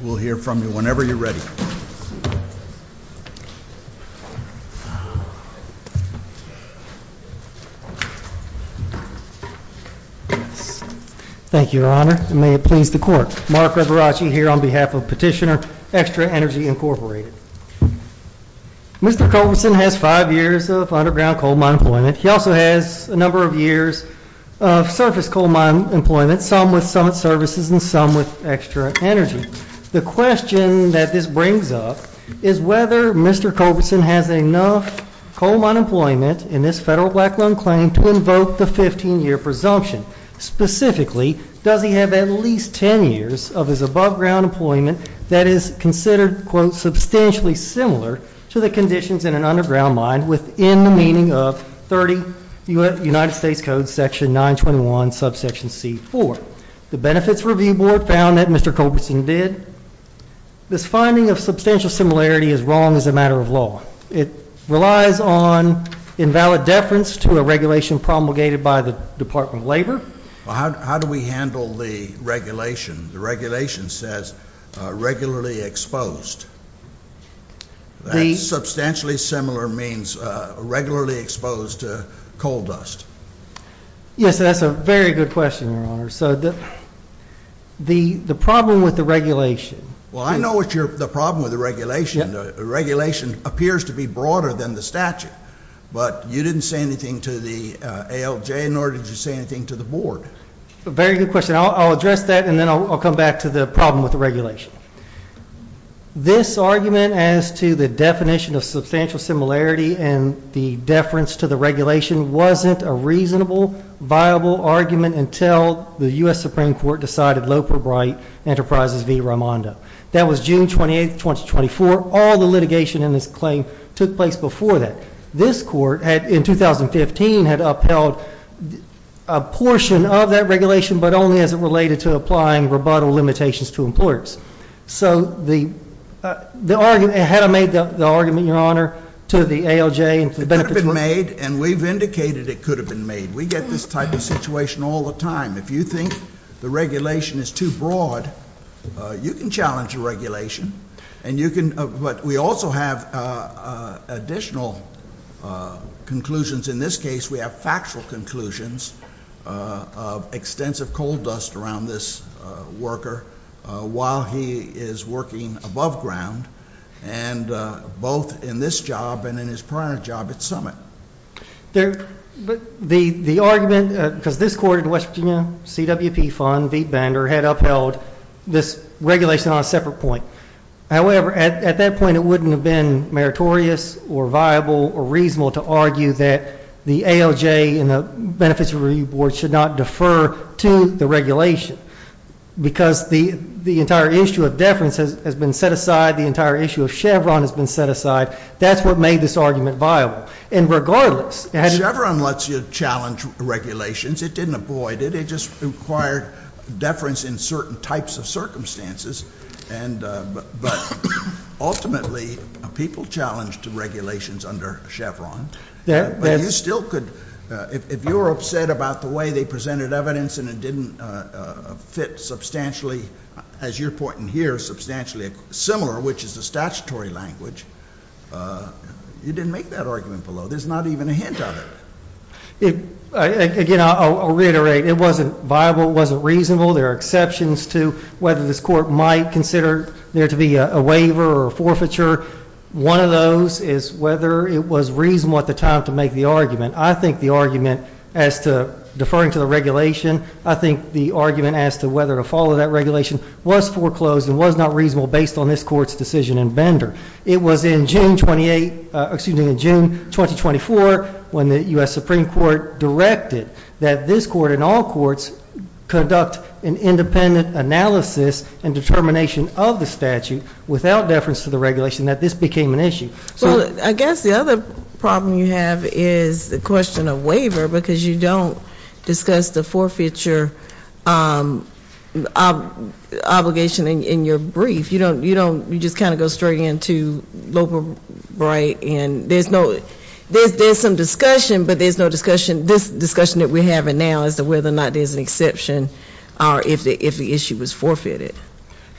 We'll hear from you whenever you're ready. Thank you, Your Honor, and may it please the Court. Mark Averacci here on behalf of Petitioner Extra Energy, Incorporated. Mr. Culverson has five years of underground coal mine employment. He also has a number of years of surface coal mine employment, some with Summit Services and some with Extra Energy. The question that this brings up is whether Mr. Culverson has enough coal mine employment in this federal black loan claim to invoke the 15-year presumption. Specifically, does he have at least 10 years of his above-ground employment that is considered, quote, substantially similar to the conditions in an underground mine within the meaning of 30 United States Code section 921 subsection c. 4. The Benefits Review Board found that Mr. Culverson did. This finding of substantial similarity is wrong as a matter of law. It relies on invalid deference to a regulation promulgated by the Department of Labor. Well, how do we handle the regulation? The regulation says regularly exposed. That substantially similar means regularly exposed to coal dust. Yes, that's a very good question, Your Honor. So the problem with the regulation. Well, I know what's the problem with the regulation. The regulation appears to be broader than the statute. But you didn't say anything to the ALJ, nor did you say anything to the Board. Very good question. I'll address that, and then I'll come back to the problem with the regulation. This argument as to the definition of substantial similarity and the deference to the regulation wasn't a reasonable, viable argument until the U.S. Supreme Court decided Loper Bright Enterprises v. Raimondo. That was June 28, 2024. All the litigation in this claim took place before that. This court, in 2015, had upheld a portion of that regulation, but only as it related to applying rebuttal limitations to employers. So had I made the argument, Your Honor, to the ALJ and to the Benefits Board? It could have been made, and we've indicated it could have been made. We get this type of situation all the time. If you think the regulation is too broad, you can challenge the regulation. But we also have additional conclusions. In this case, we have factual conclusions of extensive coal dust around this worker while he is working above ground, and both in this job and in his prior job at Summit. The argument, because this court in West Virginia, CWP Fund v. Bender, had upheld this regulation on a separate point. However, at that point, it wouldn't have been meritorious or viable or reasonable to argue that the ALJ and the Benefits Review Board should not defer to the regulation because the entire issue of deference has been set aside. The entire issue of Chevron has been set aside. That's what made this argument viable. And regardless... Chevron lets you challenge regulations. It didn't avoid it. It just required deference in certain types of circumstances. But ultimately, people challenged the regulations under Chevron. But you still could... If you were upset about the way they presented evidence and it didn't fit substantially, as you're pointing here, similar, which is the statutory language, you didn't make that argument below. There's not even a hint of it. Again, I'll reiterate, it wasn't viable, it wasn't reasonable. There are exceptions to whether this court might consider there to be a waiver or a forfeiture. One of those is whether it was reasonable at the time to make the argument. I think the argument as to deferring to the regulation, I think the argument as to whether to follow that regulation was foreclosed and was not reasonable based on this court's decision in Bender. It was in June 2024 when the U.S. Supreme Court directed that this court and all courts conduct an independent analysis and determination of the statute without deference to the regulation that this became an issue. Well, I guess the other problem you have is the question of waiver because you don't discuss the forfeiture obligation in your brief. You don't, you don't, you just kind of go straight into Loeb or Bright and there's no, there's some discussion, but there's no discussion, this discussion that we're having now as to whether or not there's an exception or if the issue was forfeited.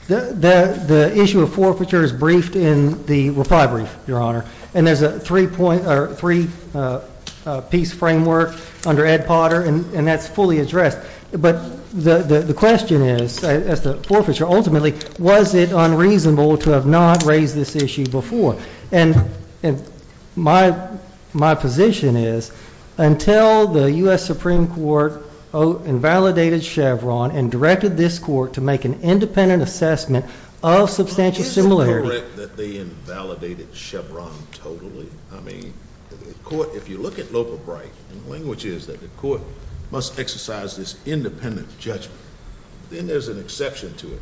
The issue of forfeiture is briefed in the reply brief, Your Honor, and there's a three-piece framework under Ed Potter and that's fully addressed. But the question is, as to forfeiture, ultimately, was it unreasonable to have not raised this issue before? And my position is until the U.S. Supreme Court invalidated Chevron and directed this court to make an independent assessment of substantial similarity. Is it correct that they invalidated Chevron totally? I mean, the court, if you look at Loeb or Bright, the language is that the court must exercise this independent judgment. Then there's an exception to it.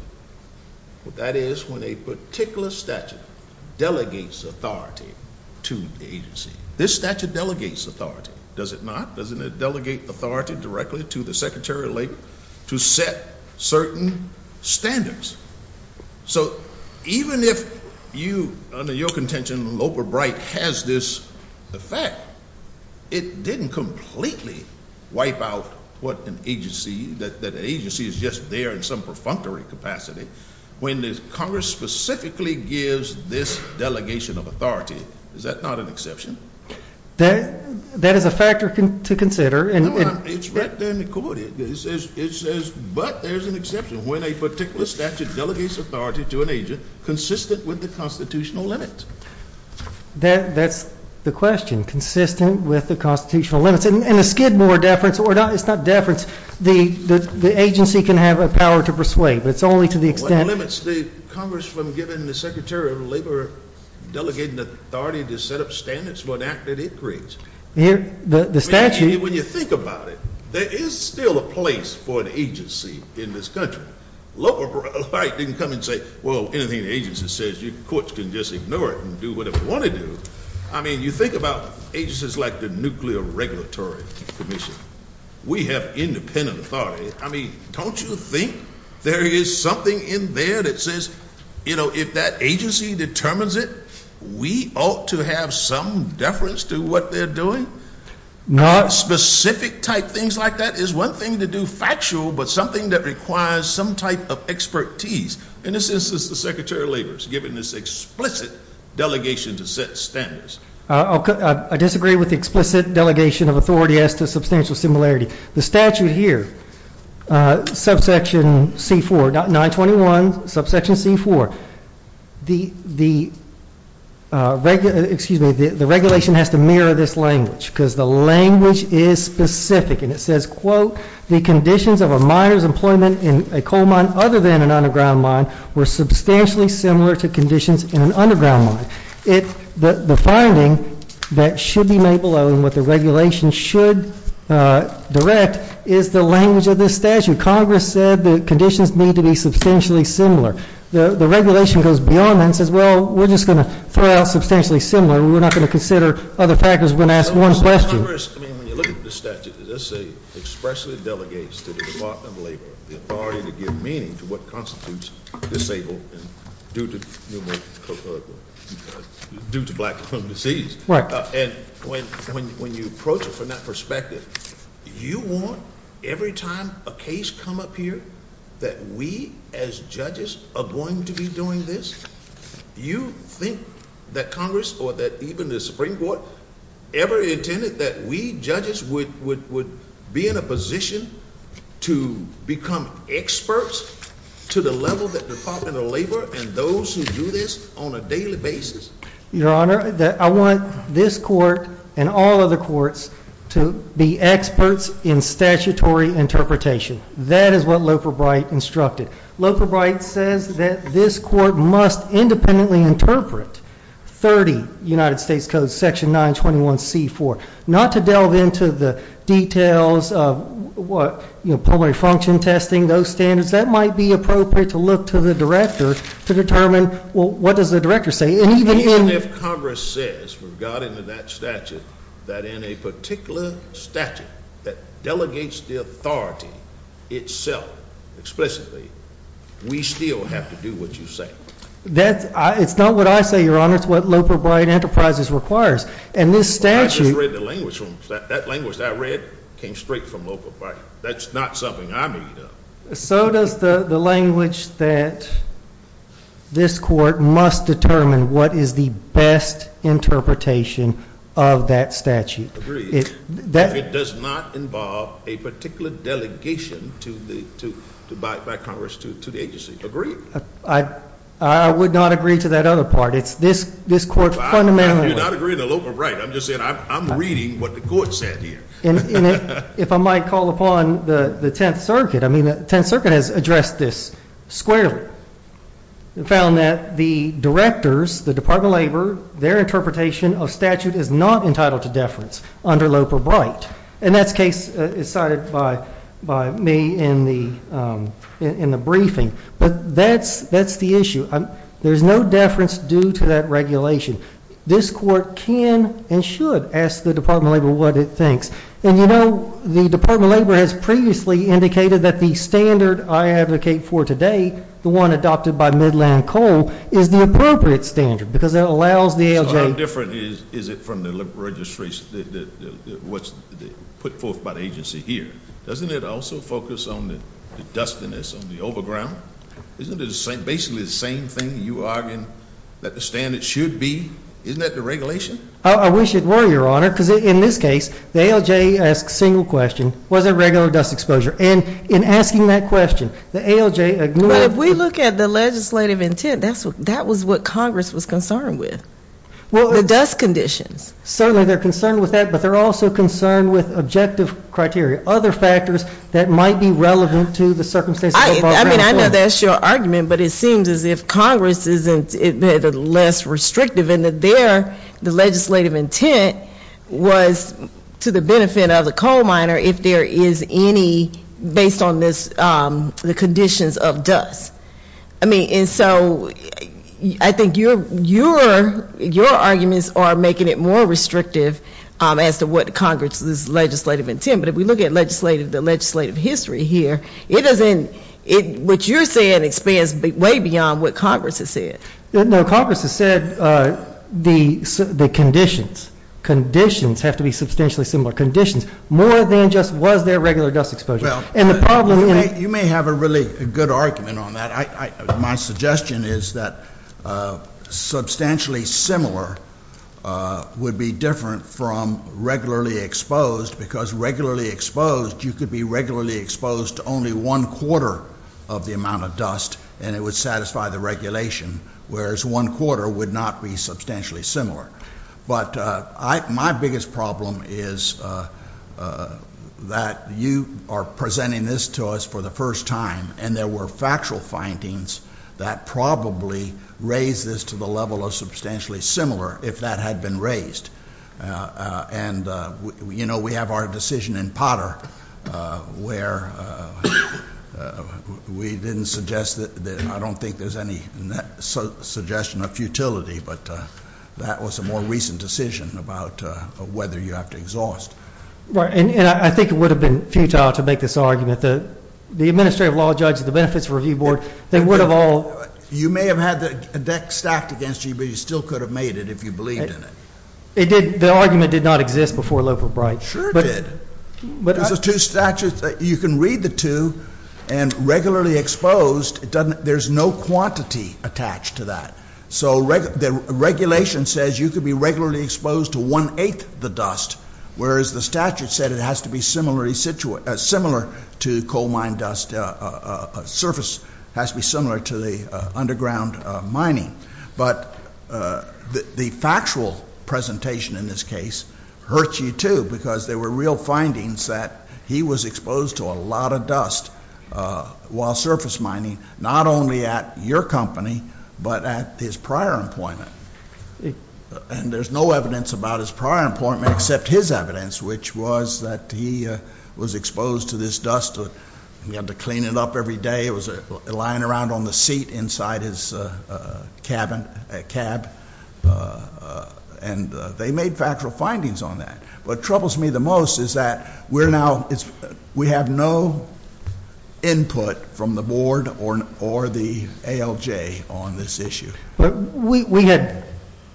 But that is when a particular statute delegates authority to the agency. This statute delegates authority, does it not? Doesn't it delegate authority directly to the Secretary of Labor to set certain standards? So even if you, under your contention, Loeb or Bright has this effect, it didn't completely wipe out what an agency, that agency is just there in some perfunctory capacity, when Congress specifically gives this delegation of authority. Is that not an exception? That is a factor to consider. No, it's right there in the court. It says, but there's an exception when a particular statute delegates authority to an agent consistent with the constitutional limit. That's the question, consistent with the constitutional limits. And the Skidmore deference, it's not deference. The agency can have a power to persuade, but it's only to the extent— What limits the Congress from giving the Secretary of Labor delegating authority to set up standards for an act that it creates? The statute— When you think about it, there is still a place for an agency in this country. Loeb or Bright didn't come and say, well, anything the agency says, courts can just ignore it and do whatever they want to do. I mean, you think about agencies like the Nuclear Regulatory Commission. We have independent authority. I mean, don't you think there is something in there that says, you know, if that agency determines it, we ought to have some deference to what they're doing? Specific type things like that is one thing to do factual, but something that requires some type of expertise. In this instance, the Secretary of Labor is giving this explicit delegation to set standards. I disagree with the explicit delegation of authority as to substantial similarity. The statute here, subsection C-4, 921, subsection C-4, the regulation has to mirror this language because the language is specific. And it says, quote, the conditions of a miner's employment in a coal mine other than an underground mine were substantially similar to conditions in an underground mine. The finding that should be made below and what the regulation should direct is the language of this statute. Congress said the conditions need to be substantially similar. The regulation goes beyond that and says, well, we're just going to throw out substantially similar. We're not going to consider other factors. We're going to ask one question. Congress, I mean, when you look at the statute, as I say, expressly delegates to the Department of Labor the authority to give meaning to what constitutes disabled due to black lung disease. And when you approach it from that perspective, you want every time a case come up here that we as judges are going to be doing this? You think that Congress or that even the Supreme Court ever intended that we judges would be in a position to become experts to the level that the Department of Labor and those who do this on a daily basis? Your Honor, I want this court and all other courts to be experts in statutory interpretation. That is what Loper Bright instructed. Loper Bright says that this court must independently interpret 30 United States Code Section 921C4. Not to delve into the details of what, you know, pulmonary function testing, those standards. That might be appropriate to look to the director to determine, well, what does the director say? Even if Congress says, regarding to that statute, that in a particular statute that delegates the authority itself explicitly, we still have to do what you say. It's not what I say, Your Honor. It's what Loper Bright Enterprises requires. And this statute— I just read the language. That language that I read came straight from Loper Bright. That's not something I made up. So does the language that this court must determine what is the best interpretation of that statute. Agreed. If it does not involve a particular delegation by Congress to the agency. Agreed. I would not agree to that other part. It's this court fundamentally— You're not agreeing to Loper Bright. I'm just saying I'm reading what the court said here. If I might call upon the Tenth Circuit, I mean, the Tenth Circuit has addressed this squarely. They found that the directors, the Department of Labor, their interpretation of statute is not entitled to deference under Loper Bright. And that case is cited by me in the briefing. But that's the issue. There's no deference due to that regulation. This court can and should ask the Department of Labor what it thinks. And, you know, the Department of Labor has previously indicated that the standard I advocate for today, the one adopted by Midland Coal, is the appropriate standard because it allows the ALJ— So how different is it from the registration that was put forth by the agency here? Doesn't it also focus on the dustiness, on the overground? Isn't it basically the same thing you argue that the standard should be? Isn't that the regulation? I wish it were, Your Honor, because in this case, the ALJ asks a single question, was there regular dust exposure? And in asking that question, the ALJ— But if we look at the legislative intent, that was what Congress was concerned with, the dust conditions. Certainly they're concerned with that, but they're also concerned with objective criteria, other factors that might be relevant to the circumstances. I mean, I know that's your argument, but it seems as if Congress is less restrictive and that their legislative intent was to the benefit of the coal miner if there is any, based on the conditions of dust. I mean, and so I think your arguments are making it more restrictive as to what Congress's legislative intent. But if we look at the legislative history here, it doesn't—what you're saying expands way beyond what Congress has said. No, Congress has said the conditions, conditions have to be substantially similar. Conditions more than just was there regular dust exposure. And the problem— You may have a really good argument on that. My suggestion is that substantially similar would be different from regularly exposed, because regularly exposed, you could be regularly exposed to only one quarter of the amount of dust, and it would satisfy the regulation, whereas one quarter would not be substantially similar. But my biggest problem is that you are presenting this to us for the first time, and there were factual findings that probably raise this to the level of substantially similar if that had been raised. And, you know, we have our decision in Potter where we didn't suggest that—I don't think there's any suggestion of futility, but that was a more recent decision about whether you have to exhaust. And I think it would have been futile to make this argument. The administrative law judge at the Benefits Review Board, they would have all— You may have had the deck stacked against you, but you still could have made it if you believed in it. It did—the argument did not exist before Loeb or Bright. Sure it did. But— There's two statutes. You can read the two, and regularly exposed, it doesn't—there's no quantity attached to that. So the regulation says you could be regularly exposed to one-eighth the dust, whereas the statute said it has to be similar to coal mine dust—surface has to be similar to the underground mining. But the factual presentation in this case hurts you, too, because there were real findings that he was exposed to a lot of dust while surface mining, not only at your company but at his prior employment. And there's no evidence about his prior employment except his evidence, which was that he was exposed to this dust. He had to clean it up every day. It was lying around on the seat inside his cabin—cab. And they made factual findings on that. What troubles me the most is that we're now—we have no input from the board or the ALJ on this issue. But we had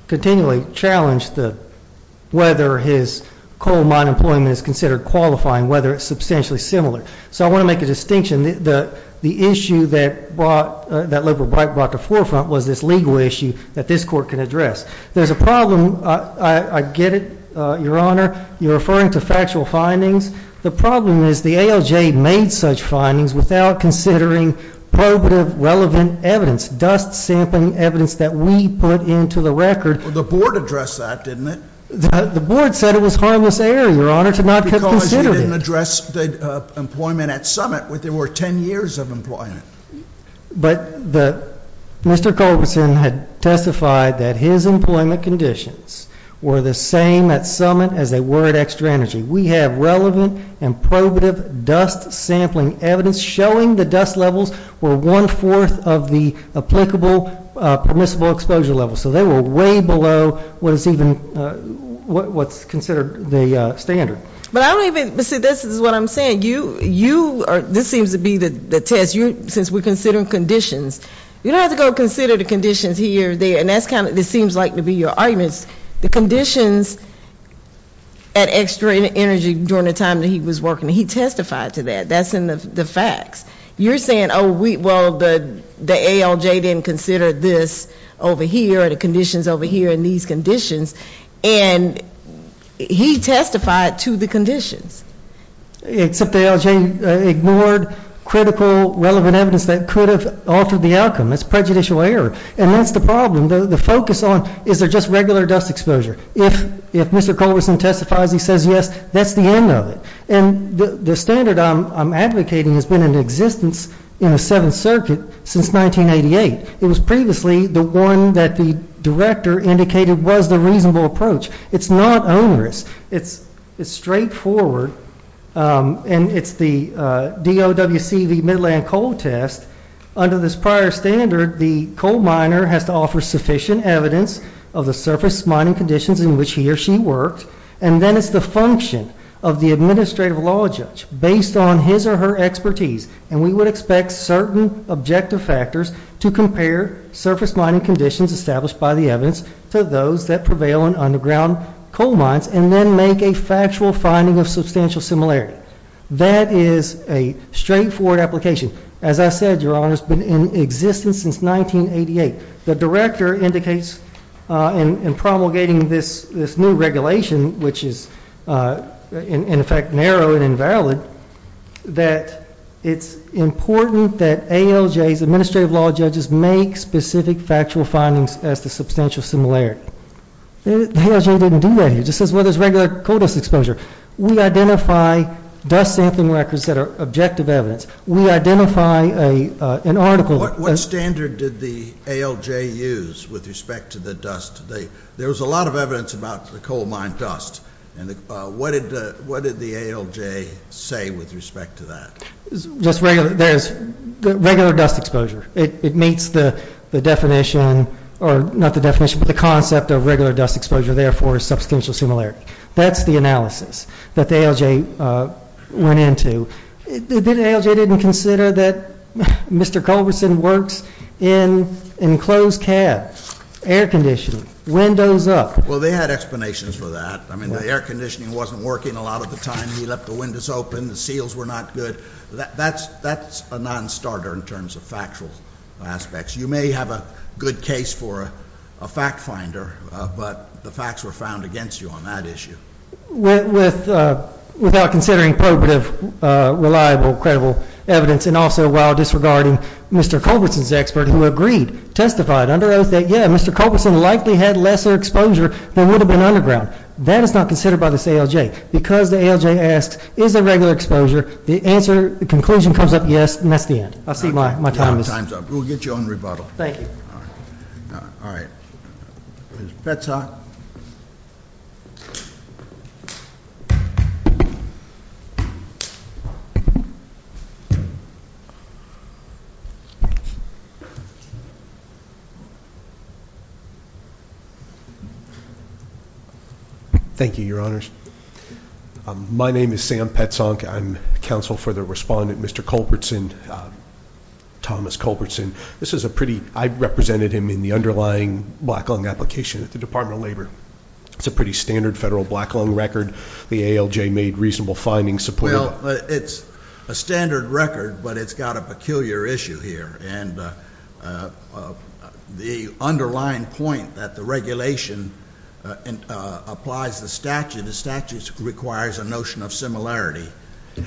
continually challenged whether his coal mine employment is considered qualifying, whether it's substantially similar. So I want to make a distinction. The issue that Labor brought to the forefront was this legal issue that this Court can address. There's a problem—I get it, Your Honor. You're referring to factual findings. The problem is the ALJ made such findings without considering probative, relevant evidence, dust-sampling evidence that we put into the record. Well, the board addressed that, didn't it? The board said it was harmless error, Your Honor, to not consider it. Because you didn't address the employment at Summit where there were 10 years of employment. But Mr. Culberson had testified that his employment conditions were the same at Summit as they were at Extra Energy. We have relevant and probative dust-sampling evidence showing the dust levels were one-fourth of the applicable permissible exposure levels. So they were way below what is even—what's considered the standard. But I don't even—see, this is what I'm saying. You are—this seems to be the test, since we're considering conditions. You don't have to go consider the conditions here or there, and that's kind of what this seems like to be your arguments. The conditions at Extra Energy during the time that he was working, he testified to that. That's in the facts. You're saying, oh, well, the ALJ didn't consider this over here or the conditions over here in these conditions. And he testified to the conditions. Except the ALJ ignored critical, relevant evidence that could have altered the outcome. That's prejudicial error. And that's the problem. The focus on, is there just regular dust exposure? If Mr. Culberson testifies he says yes, that's the end of it. And the standard I'm advocating has been in existence in the Seventh Circuit since 1988. It was previously the one that the director indicated was the reasonable approach. It's not onerous. It's straightforward, and it's the DOWCV Midland Coal Test. Under this prior standard, the coal miner has to offer sufficient evidence of the surface mining conditions in which he or she worked, and then it's the function of the administrative law judge based on his or her expertise. And we would expect certain objective factors to compare surface mining conditions established by the evidence to those that prevail in underground coal mines and then make a factual finding of substantial similarity. That is a straightforward application. As I said, Your Honor, it's been in existence since 1988. The director indicates in promulgating this new regulation, which is, in effect, narrow and invalid, that it's important that ALJ's administrative law judges make specific factual findings as to substantial similarity. ALJ didn't do that here. It just says, well, there's regular coal dust exposure. We identify dust sampling records that are objective evidence. We identify an article. What standard did the ALJ use with respect to the dust? There was a lot of evidence about the coal mine dust. What did the ALJ say with respect to that? Just regular dust exposure. It meets the definition, or not the definition, but the concept of regular dust exposure, therefore, substantial similarity. That's the analysis that the ALJ went into. The ALJ didn't consider that Mr. Culberson works in enclosed cabs, air conditioning, windows up. Well, they had explanations for that. I mean, the air conditioning wasn't working a lot of the time. He left the windows open. The seals were not good. That's a nonstarter in terms of factual aspects. You may have a good case for a fact finder, but the facts were found against you on that issue. Without considering probative, reliable, credible evidence, and also while disregarding Mr. Culberson's expert who agreed, testified, under oath, that, yeah, Mr. Culberson likely had lesser exposure than would have been underground. That is not considered by this ALJ. Because the ALJ asks, is there regular exposure, the answer, the conclusion comes up yes, and that's the end. I'll see if my time is up. We'll get you on rebuttal. Thank you. All right. Ms. Petzonk. Thank you, Your Honors. My name is Sam Petzonk. I'm counsel for the respondent, Mr. Culberson, Thomas Culberson. This is a pretty, I represented him in the underlying black lung application at the Department of Labor. It's a pretty standard federal black lung record. The ALJ made reasonable findings supporting it. Well, it's a standard record, but it's got a peculiar issue here. And the underlying point that the regulation applies the statute, the statute requires a notion of similarity,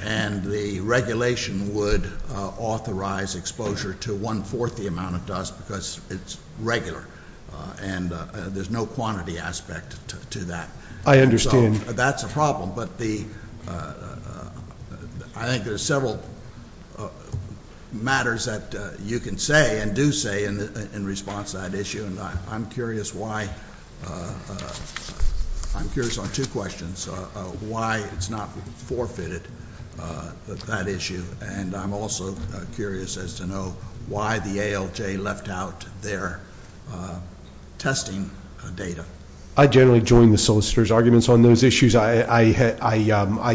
and the regulation would authorize exposure to one-fourth the amount it does because it's regular. And there's no quantity aspect to that. I understand. So that's a problem. But I think there's several matters that you can say and do say in response to that issue, and I'm curious on two questions, why it's not forfeited, that issue, and I'm also curious as to know why the ALJ left out their testing data. I generally join the solicitor's arguments on those issues. I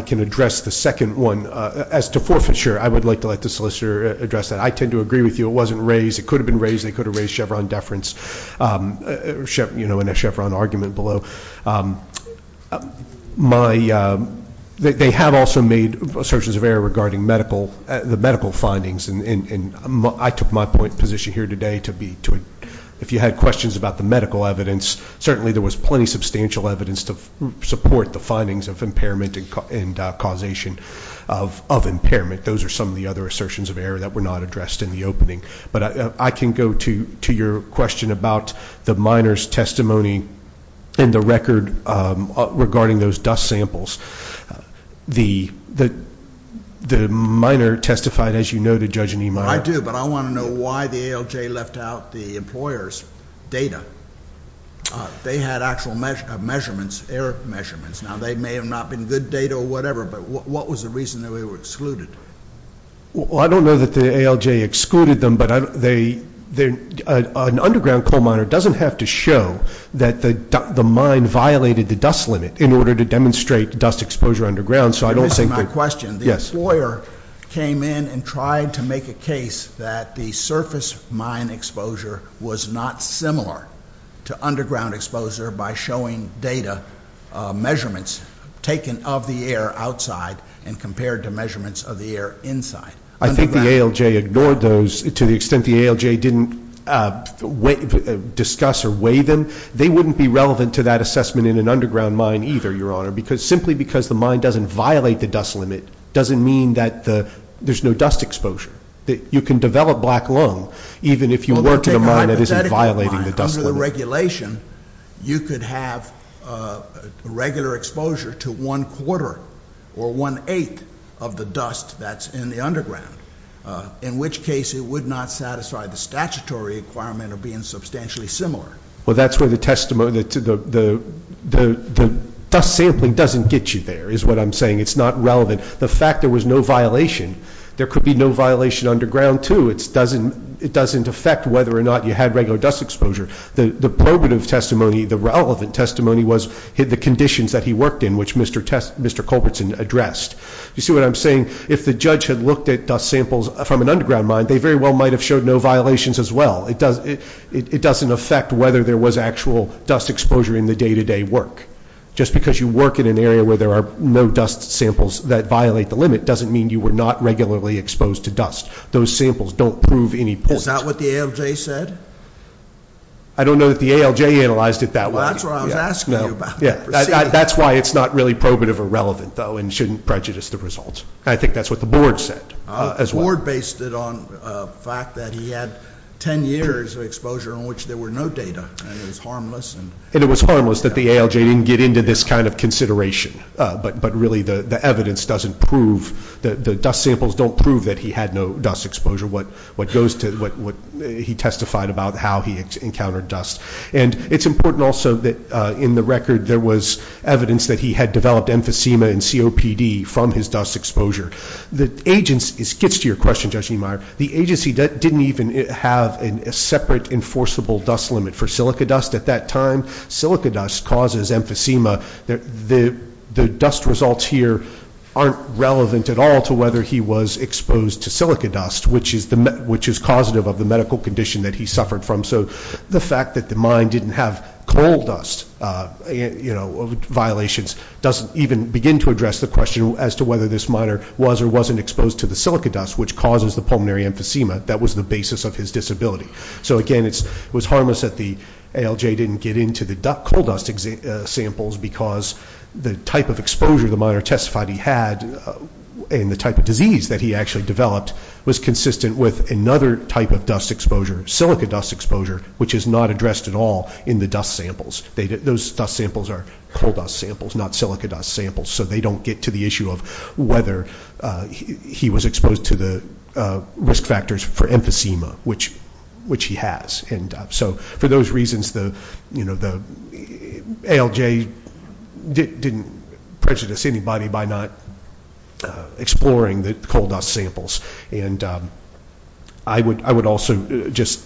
can address the second one. As to forfeiture, I would like to let the solicitor address that. I tend to agree with you. It wasn't raised. It could have been raised. They could have raised Chevron deference in a Chevron argument below. They have also made assertions of error regarding the medical findings, and I took my position here today to be, if you had questions about the medical evidence, certainly there was plenty of substantial evidence to support the findings of impairment and causation of impairment. Those are some of the other assertions of error that were not addressed in the opening. But I can go to your question about the minor's testimony and the record regarding those dust samples. The minor testified, as you noted, Judge Anemar. I do, but I want to know why the ALJ left out the employer's data. They had actual measurements, error measurements. Now, they may have not been good data or whatever, but what was the reason they were excluded? Well, I don't know that the ALJ excluded them, but an underground coal miner doesn't have to show that the mine violated the dust limit in order to demonstrate dust exposure underground. This is my question. The employer came in and tried to make a case that the surface mine exposure was not similar to underground exposure by showing data measurements taken of the air outside and compared to measurements of the air inside. I think the ALJ ignored those to the extent the ALJ didn't discuss or weigh them. They wouldn't be relevant to that assessment in an underground mine either, Your Honor, simply because the mine doesn't violate the dust limit doesn't mean that there's no dust exposure. You can develop black lung even if you work at a mine that isn't violating the dust limit. Under the regulation, you could have regular exposure to one-quarter or one-eighth of the dust that's in the underground, in which case it would not satisfy the statutory requirement of being substantially similar. Well, that's where the dust sampling doesn't get you there is what I'm saying. It's not relevant. The fact there was no violation, there could be no violation underground too. It doesn't affect whether or not you had regular dust exposure. The probative testimony, the relevant testimony was the conditions that he worked in, which Mr. Culbertson addressed. You see what I'm saying? If the judge had looked at dust samples from an underground mine, they very well might have showed no violations as well. It doesn't affect whether there was actual dust exposure in the day-to-day work. Just because you work in an area where there are no dust samples that violate the limit doesn't mean you were not regularly exposed to dust. Those samples don't prove any point. Is that what the ALJ said? I don't know that the ALJ analyzed it that way. Well, that's what I was asking you about. That's why it's not really probative or relevant, though, and shouldn't prejudice the results. I think that's what the board said as well. The board based it on the fact that he had 10 years of exposure in which there were no data, and it was harmless. And it was harmless that the ALJ didn't get into this kind of consideration, but really the evidence doesn't prove, the dust samples don't prove that he had no dust exposure, what he testified about how he encountered dust. And it's important also that in the record there was evidence that he had developed emphysema and COPD from his dust exposure. It gets to your question, Judge Niemeyer. The agency didn't even have a separate enforceable dust limit for silica dust at that time. When silica dust causes emphysema, the dust results here aren't relevant at all to whether he was exposed to silica dust, which is causative of the medical condition that he suffered from. So the fact that the mine didn't have coal dust violations doesn't even begin to address the question as to whether this miner was or wasn't exposed to the silica dust, which causes the pulmonary emphysema. That was the basis of his disability. So, again, it was harmless that the ALJ didn't get into the coal dust samples because the type of exposure the miner testified he had and the type of disease that he actually developed was consistent with another type of dust exposure, silica dust exposure, which is not addressed at all in the dust samples. Those dust samples are coal dust samples, not silica dust samples, so they don't get to the issue of whether he was exposed to the risk factors for emphysema, which he has. And so for those reasons, the ALJ didn't prejudice anybody by not exploring the coal dust samples. And I would also just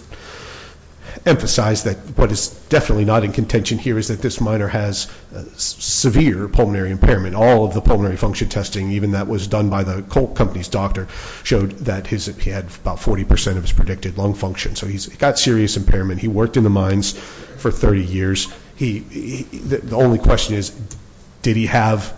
emphasize that what is definitely not in contention here is that this miner has severe pulmonary impairment. All of the pulmonary function testing, even that was done by the coal company's doctor, showed that he had about 40 percent of his predicted lung function. So he's got serious impairment. He worked in the mines for 30 years. The only question is, did he have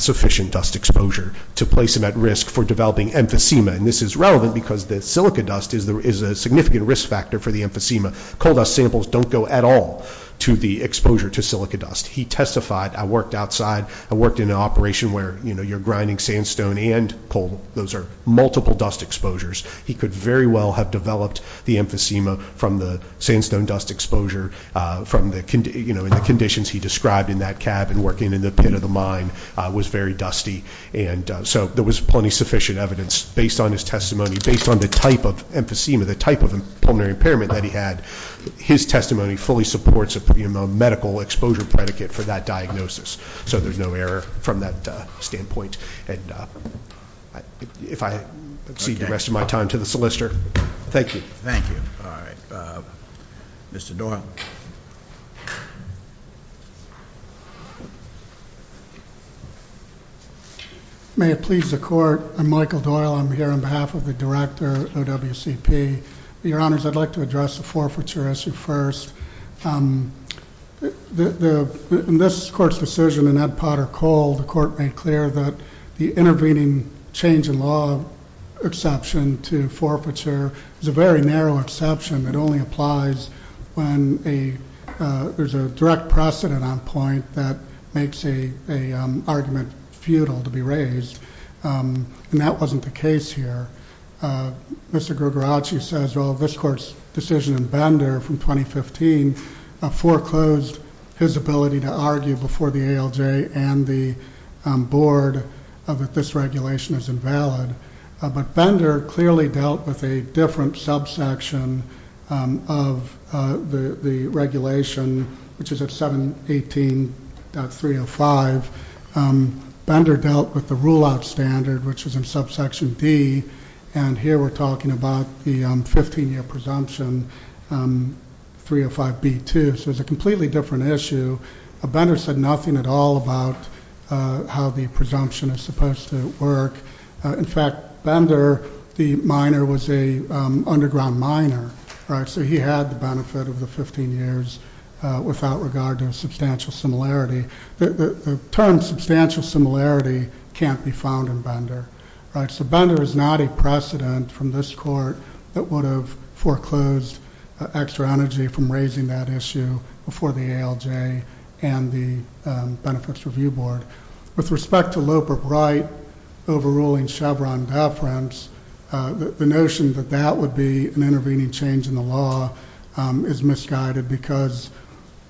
sufficient dust exposure to place him at risk for developing emphysema? And this is relevant because the silica dust is a significant risk factor for the emphysema. The coal dust samples don't go at all to the exposure to silica dust. He testified. I worked outside. I worked in an operation where you're grinding sandstone and coal. Those are multiple dust exposures. He could very well have developed the emphysema from the sandstone dust exposure in the conditions he described in that cab and working in the pit of the mine was very dusty. And so there was plenty of sufficient evidence based on his testimony, based on the type of emphysema, the type of pulmonary impairment that he had. His testimony fully supports a medical exposure predicate for that diagnosis. So there's no error from that standpoint. And if I cede the rest of my time to the solicitor, thank you. Thank you. All right. Mr. Doyle. May it please the Court, I'm Michael Doyle. I'm here on behalf of the director of WCP. Your Honors, I'd like to address the forfeiture issue first. In this Court's decision in Ed Potter Cole, the Court made clear that the intervening change in law exception to forfeiture is a very narrow exception. It only applies when there's a direct precedent on point that makes an argument futile to be raised. And that wasn't the case here. Mr. Grugarachi says, well, this Court's decision in Bender from 2015 foreclosed his ability to argue before the ALJ and the Board that this regulation is invalid. But Bender clearly dealt with a different subsection of the regulation, which is at 718.305. Bender dealt with the rule-out standard, which is in subsection D. And here we're talking about the 15-year presumption, 305B2. So it's a completely different issue. Bender said nothing at all about how the presumption is supposed to work. In fact, Bender, the minor, was an underground miner. So he had the benefit of the 15 years without regard to a substantial similarity. The term substantial similarity can't be found in Bender. So Bender is not a precedent from this Court that would have foreclosed extra energy from raising that issue before the ALJ and the Benefits Review Board. With respect to Loeb or Bright overruling Chevron deference, the notion that that would be an intervening change in the law is misguided because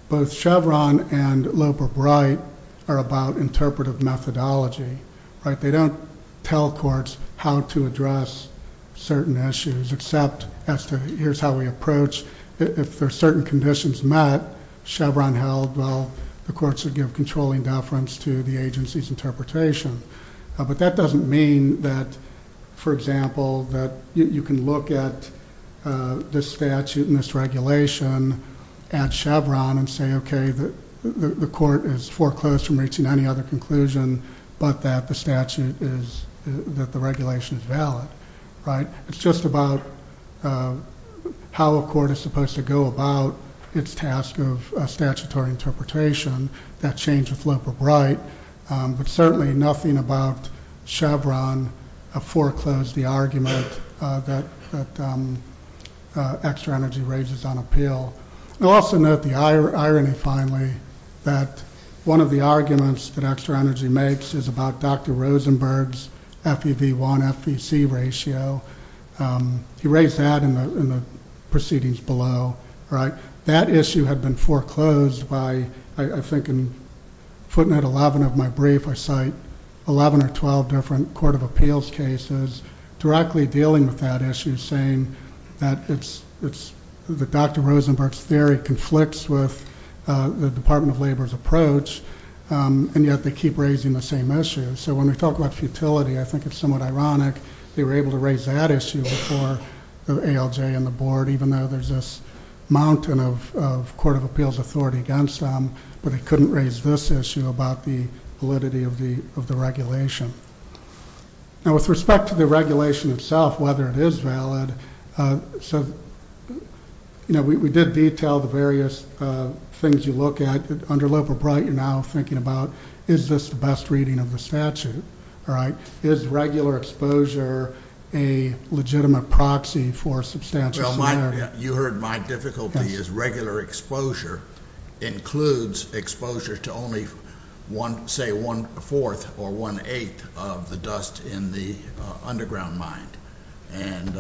both Chevron and Loeb or Bright are about interpretive methodology. They don't tell courts how to address certain issues except as to here's how we approach. If there are certain conditions met, Chevron held, well, the courts would give controlling deference to the agency's interpretation. But that doesn't mean that, for example, that you can look at this statute and this regulation at Chevron and say, okay, the court has foreclosed from reaching any other conclusion but that the statute is that the regulation is valid, right? It's just about how a court is supposed to go about its task of statutory interpretation. That changed with Loeb or Bright. But certainly nothing about Chevron foreclosed the argument that extra energy raises on appeal. I'll also note the irony, finally, that one of the arguments that extra energy makes is about Dr. Rosenberg's FEV1-FEC ratio. He raised that in the proceedings below, right? That issue had been foreclosed by, I think in footnote 11 of my brief, I cite 11 or 12 different court of appeals cases directly dealing with that issue, saying that Dr. Rosenberg's theory conflicts with the Department of Labor's approach, and yet they keep raising the same issue. So when we talk about futility, I think it's somewhat ironic they were able to raise that issue before ALJ and the board, even though there's this mountain of court of appeals authority against them, but they couldn't raise this issue about the validity of the regulation. Now, with respect to the regulation itself, whether it is valid, we did detail the various things you look at. Under Loeb or Bright, you're now thinking about is this the best reading of the statute, right? Is regular exposure a legitimate proxy for substantial matter? Well, you heard my difficulty. Regular exposure includes exposure to only, say, one-fourth or one-eighth of the dust in the underground mine. And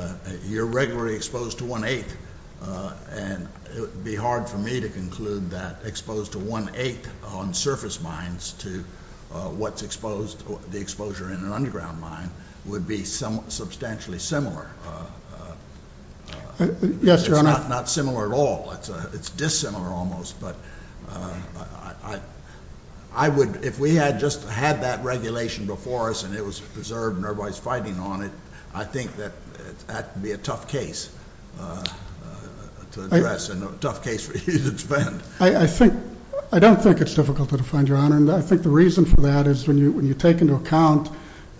you're regularly exposed to one-eighth, and it would be hard for me to conclude that exposed to one-eighth on surface mines to what's exposed, the exposure in an underground mine, would be substantially similar. Yes, Your Honor. It's not similar at all. It's dissimilar almost, but I would, if we had just had that regulation before us and it was preserved and everybody's fighting on it, I think that that would be a tough case to address and a tough case for you to defend. I don't think it's difficult to defend, Your Honor, and I think the reason for that is when you take into account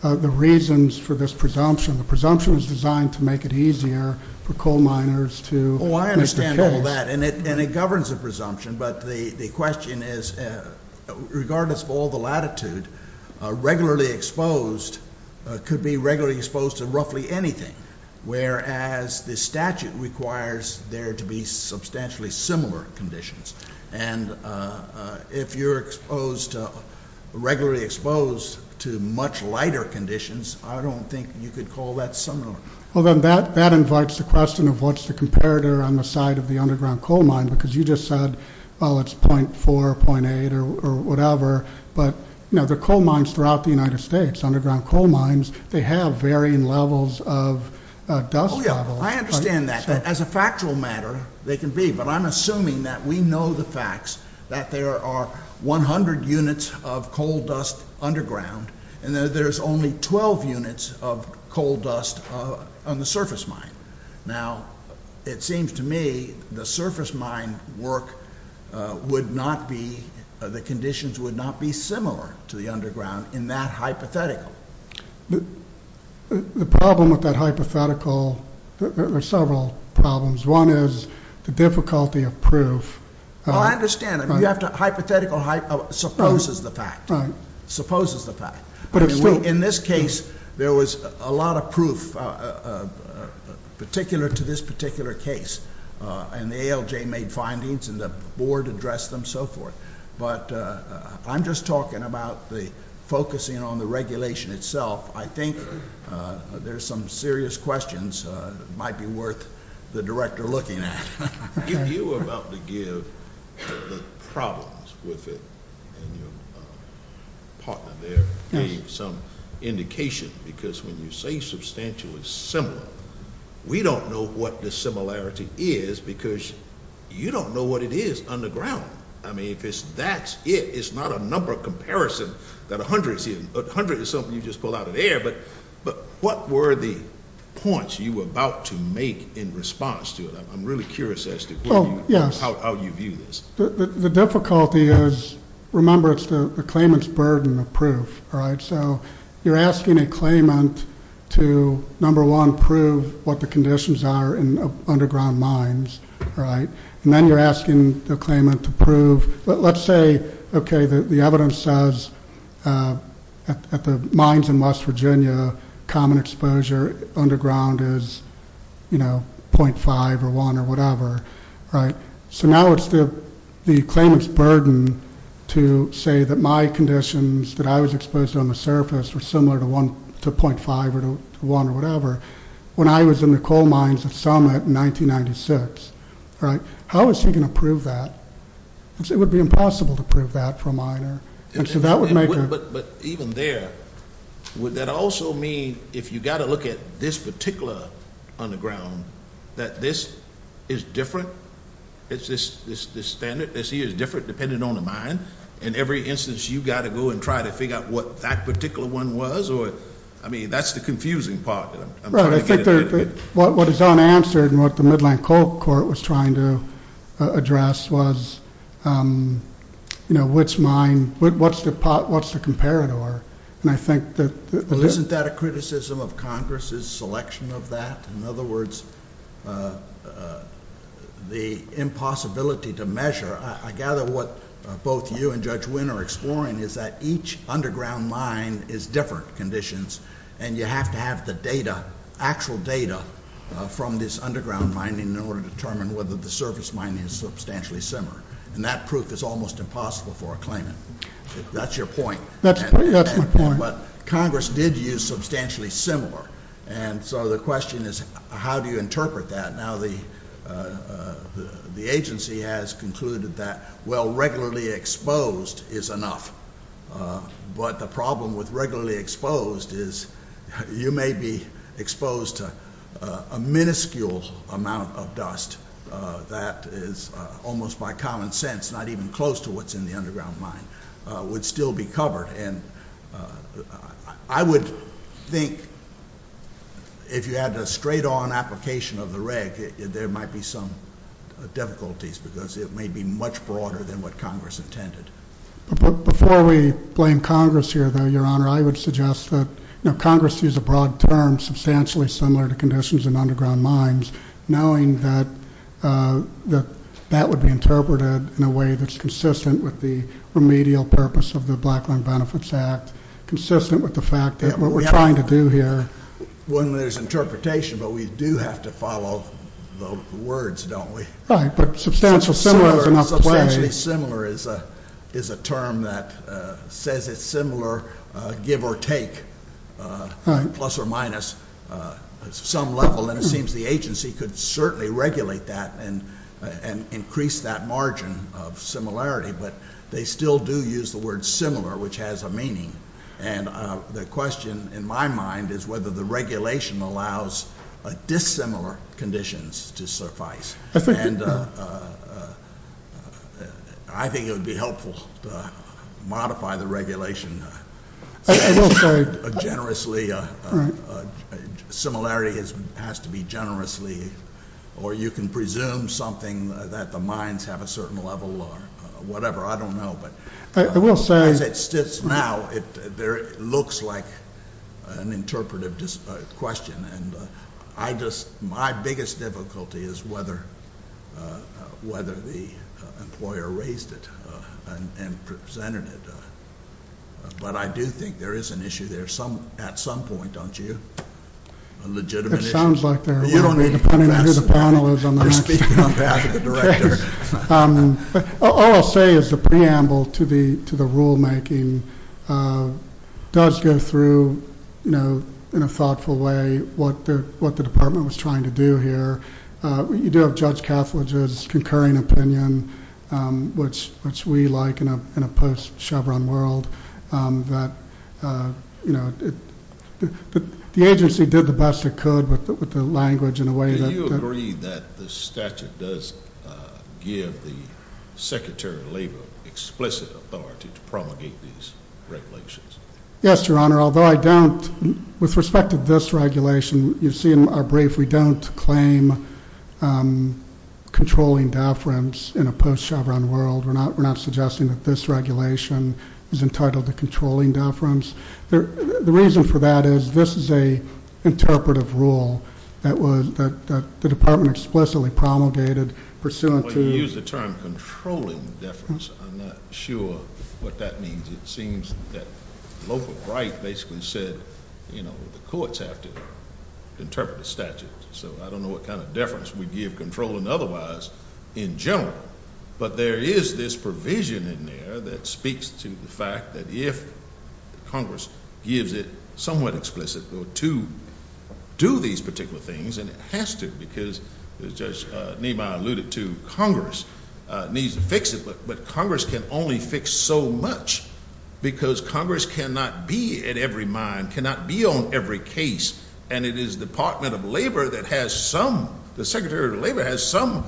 the reasons for this presumption, the presumption is designed to make it easier for coal miners to make the case. Oh, I understand all that, and it governs the presumption, but the question is, regardless of all the latitude, regularly exposed could be regularly exposed to roughly anything, whereas the statute requires there to be substantially similar conditions. And if you're regularly exposed to much lighter conditions, I don't think you could call that similar. Well, then that invites the question of what's the comparator on the side of the underground coal mine, because you just said, oh, it's .4, .8 or whatever, but the coal mines throughout the United States, underground coal mines, they have varying levels of dust levels. Oh, yeah, I understand that. As a factual matter, they can be, but I'm assuming that we know the facts, that there are 100 units of coal dust underground and that there's only 12 units of coal dust on the surface mine. Now, it seems to me the surface mine work would not be, the conditions would not be similar to the underground in that hypothetical. The problem with that hypothetical, there are several problems. One is the difficulty of proof. Oh, I understand. Hypothetical supposes the fact. Supposes the fact. In this case, there was a lot of proof, particular to this particular case, and the ALJ made findings and the board addressed them and so forth, but I'm just talking about the focusing on the regulation itself. I think there's some serious questions that might be worth the director looking at. You were about to give the problems with it, and your partner there gave some indication, because when you say substantially similar, we don't know what the similarity is because you don't know what it is underground. I mean, if that's it, it's not a number comparison that a hundred is in. A hundred is something you just pull out of the air, but what were the points you were about to make in response to it? I'm really curious as to how you view this. The difficulty is, remember, it's the claimant's burden of proof. So you're asking a claimant to, number one, prove what the conditions are in underground mines, and then you're asking the claimant to prove. Let's say, okay, the evidence says at the mines in West Virginia, common exposure underground is 0.5 or 1 or whatever. So now it's the claimant's burden to say that my conditions that I was exposed to on the surface were similar to 0.5 or 1 or whatever when I was in the coal mines of Summit in 1996. How is he going to prove that? It would be impossible to prove that for a miner. But even there, would that also mean if you've got to look at this particular underground, that this is different, it's this standard, this here is different depending on the mine, in every instance you've got to go and try to figure out what that particular one was? I mean, that's the confusing part. Right, I think what is unanswered and what the Midland Coal Court was trying to address was, you know, which mine, what's the comparator? Isn't that a criticism of Congress's selection of that? In other words, the impossibility to measure. I gather what both you and Judge Wynn are exploring is that each underground mine is different conditions, and you have to have the data, actual data, from this underground mining in order to determine whether the surface mining is substantially similar. And that proof is almost impossible for a claimant. That's your point. That's my point. But Congress did use substantially similar. And so the question is, how do you interpret that? Now, the agency has concluded that, well, regularly exposed is enough. But the problem with regularly exposed is you may be exposed to a minuscule amount of dust. That is almost by common sense, not even close to what's in the underground mine, would still be covered. And I would think if you had a straight-on application of the reg, there might be some difficulties because it may be much broader than what Congress intended. Before we blame Congress here, though, Your Honor, I would suggest that Congress used a broad term, substantially similar to conditions in underground mines, knowing that that would be interpreted in a way that's consistent with the remedial purpose of the Black Line Benefits Act, consistent with the fact that what we're trying to do here. When there's interpretation, but we do have to follow the words, don't we? Right. But substantial similar is enough to play. Substantially similar is a term that says it's similar, give or take, plus or minus some level. And it seems the agency could certainly regulate that and increase that margin of similarity. But they still do use the word similar, which has a meaning. And the question in my mind is whether the regulation allows dissimilar conditions to suffice. And I think it would be helpful to modify the regulation generously. Similarity has to be generously, or you can presume something that the mines have a certain level or whatever. I don't know. But as it sits now, it looks like an interpretive question. And my biggest difficulty is whether the employer raised it and presented it. But I do think there is an issue there at some point, don't you? A legitimate issue. It sounds like there will be, depending on who the panel is. I'm speaking on behalf of the director. All I'll say is the preamble to the rulemaking does go through, you know, in a thoughtful way, what the department was trying to do here. You do have Judge Calfridge's concurring opinion, which we like in a post-Chevron world, that, you know, the agency did the best it could with the language in a way that- Do you agree that the statute does give the Secretary of Labor explicit authority to promulgate these regulations? Yes, Your Honor, although I don't. With respect to this regulation, you see in our brief we don't claim controlling deference in a post-Chevron world. We're not suggesting that this regulation is entitled to controlling deference. The reason for that is this is an interpretive rule that the department explicitly promulgated pursuant to- Well, you used the term controlling deference. I'm not sure what that means. It seems that local right basically said, you know, the courts have to interpret the statute, so I don't know what kind of deference we give controlling otherwise in general, but there is this provision in there that speaks to the fact that if Congress gives it somewhat explicit to do these particular things, and it has to because Judge Niemeyer alluded to, Congress needs to fix it, but Congress can only fix so much because Congress cannot be at every mine, cannot be on every case, and it is the Department of Labor that has some- the Secretary of Labor has some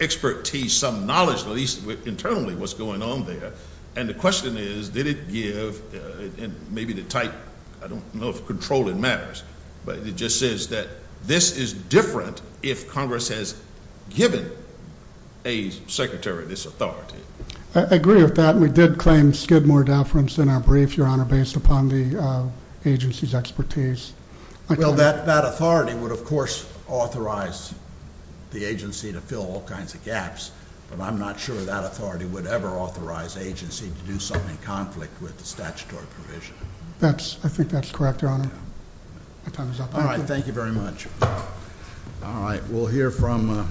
expertise, some knowledge, at least internally, what's going on there. And the question is, did it give, and maybe the type, I don't know if controlling matters, but it just says that this is different if Congress has given a secretary this authority. I agree with that. We did claim skid more deference in our brief, Your Honor, based upon the agency's expertise. Well, that authority would, of course, authorize the agency to fill all kinds of gaps, but I'm not sure that authority would ever authorize agency to do something in conflict with the statutory provision. I think that's correct, Your Honor. All right, thank you very much. All right, we'll hear from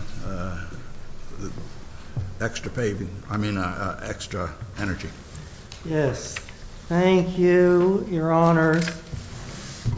Extra Energy. Yes, thank you, Your Honor.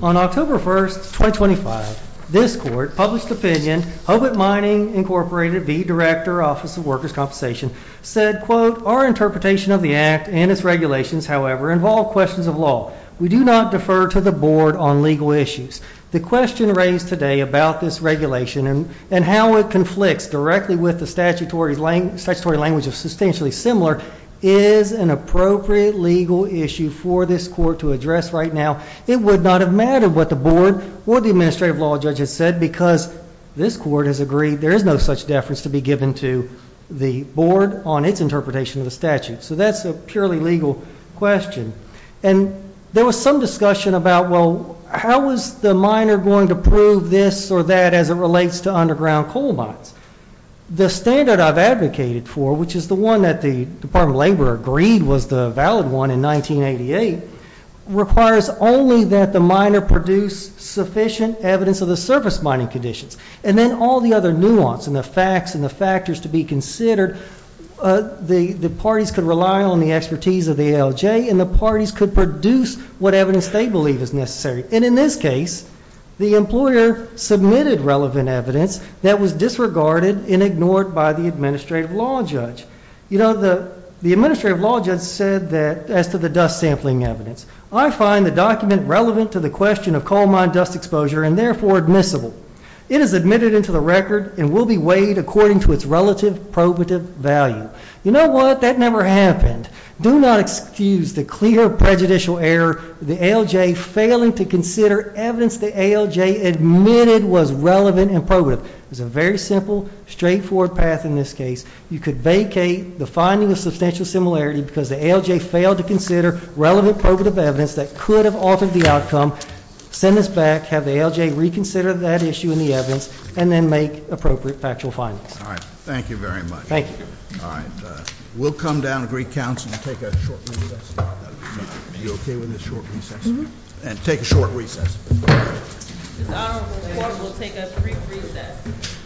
On October 1st, 2025, this court published opinion. Hobart Mining Incorporated v. Director, Office of Workers' Compensation said, quote, our interpretation of the act and its regulations, however, involve questions of law. We do not defer to the board on legal issues. The question raised today about this regulation and how it conflicts directly with the statutory language is substantially similar, is an appropriate legal issue for this court to address right now. It would not have mattered what the board or the administrative law judge had said, because this court has agreed there is no such deference to be given to the board on its interpretation of the statute. So that's a purely legal question. And there was some discussion about, well, how is the miner going to prove this or that as it relates to underground coal mines? The standard I've advocated for, which is the one that the Department of Labor agreed was the valid one in 1988, requires only that the miner produce sufficient evidence of the surface mining conditions. And then all the other nuance and the facts and the factors to be considered, the parties could rely on the expertise of the ALJ and the parties could produce what evidence they believe is necessary. And in this case, the employer submitted relevant evidence that was disregarded and ignored by the administrative law judge. You know, the administrative law judge said that as to the dust sampling evidence, I find the document relevant to the question of coal mine dust exposure and therefore admissible. It is admitted into the record and will be weighed according to its relative probative value. You know what? That never happened. Do not excuse the clear prejudicial error of the ALJ failing to consider evidence the ALJ admitted was relevant and probative. It was a very simple, straightforward path in this case. You could vacate the finding of substantial similarity because the ALJ failed to consider relevant probative evidence that could have altered the outcome, send this back, have the ALJ reconsider that issue and the evidence, and then make appropriate factual findings. All right. Thank you very much. Thank you. All right. We'll come down to Greek Council and take a short recess. Are you okay with this short recess? And take a short recess. This honorable court will take a brief recess. Thank you.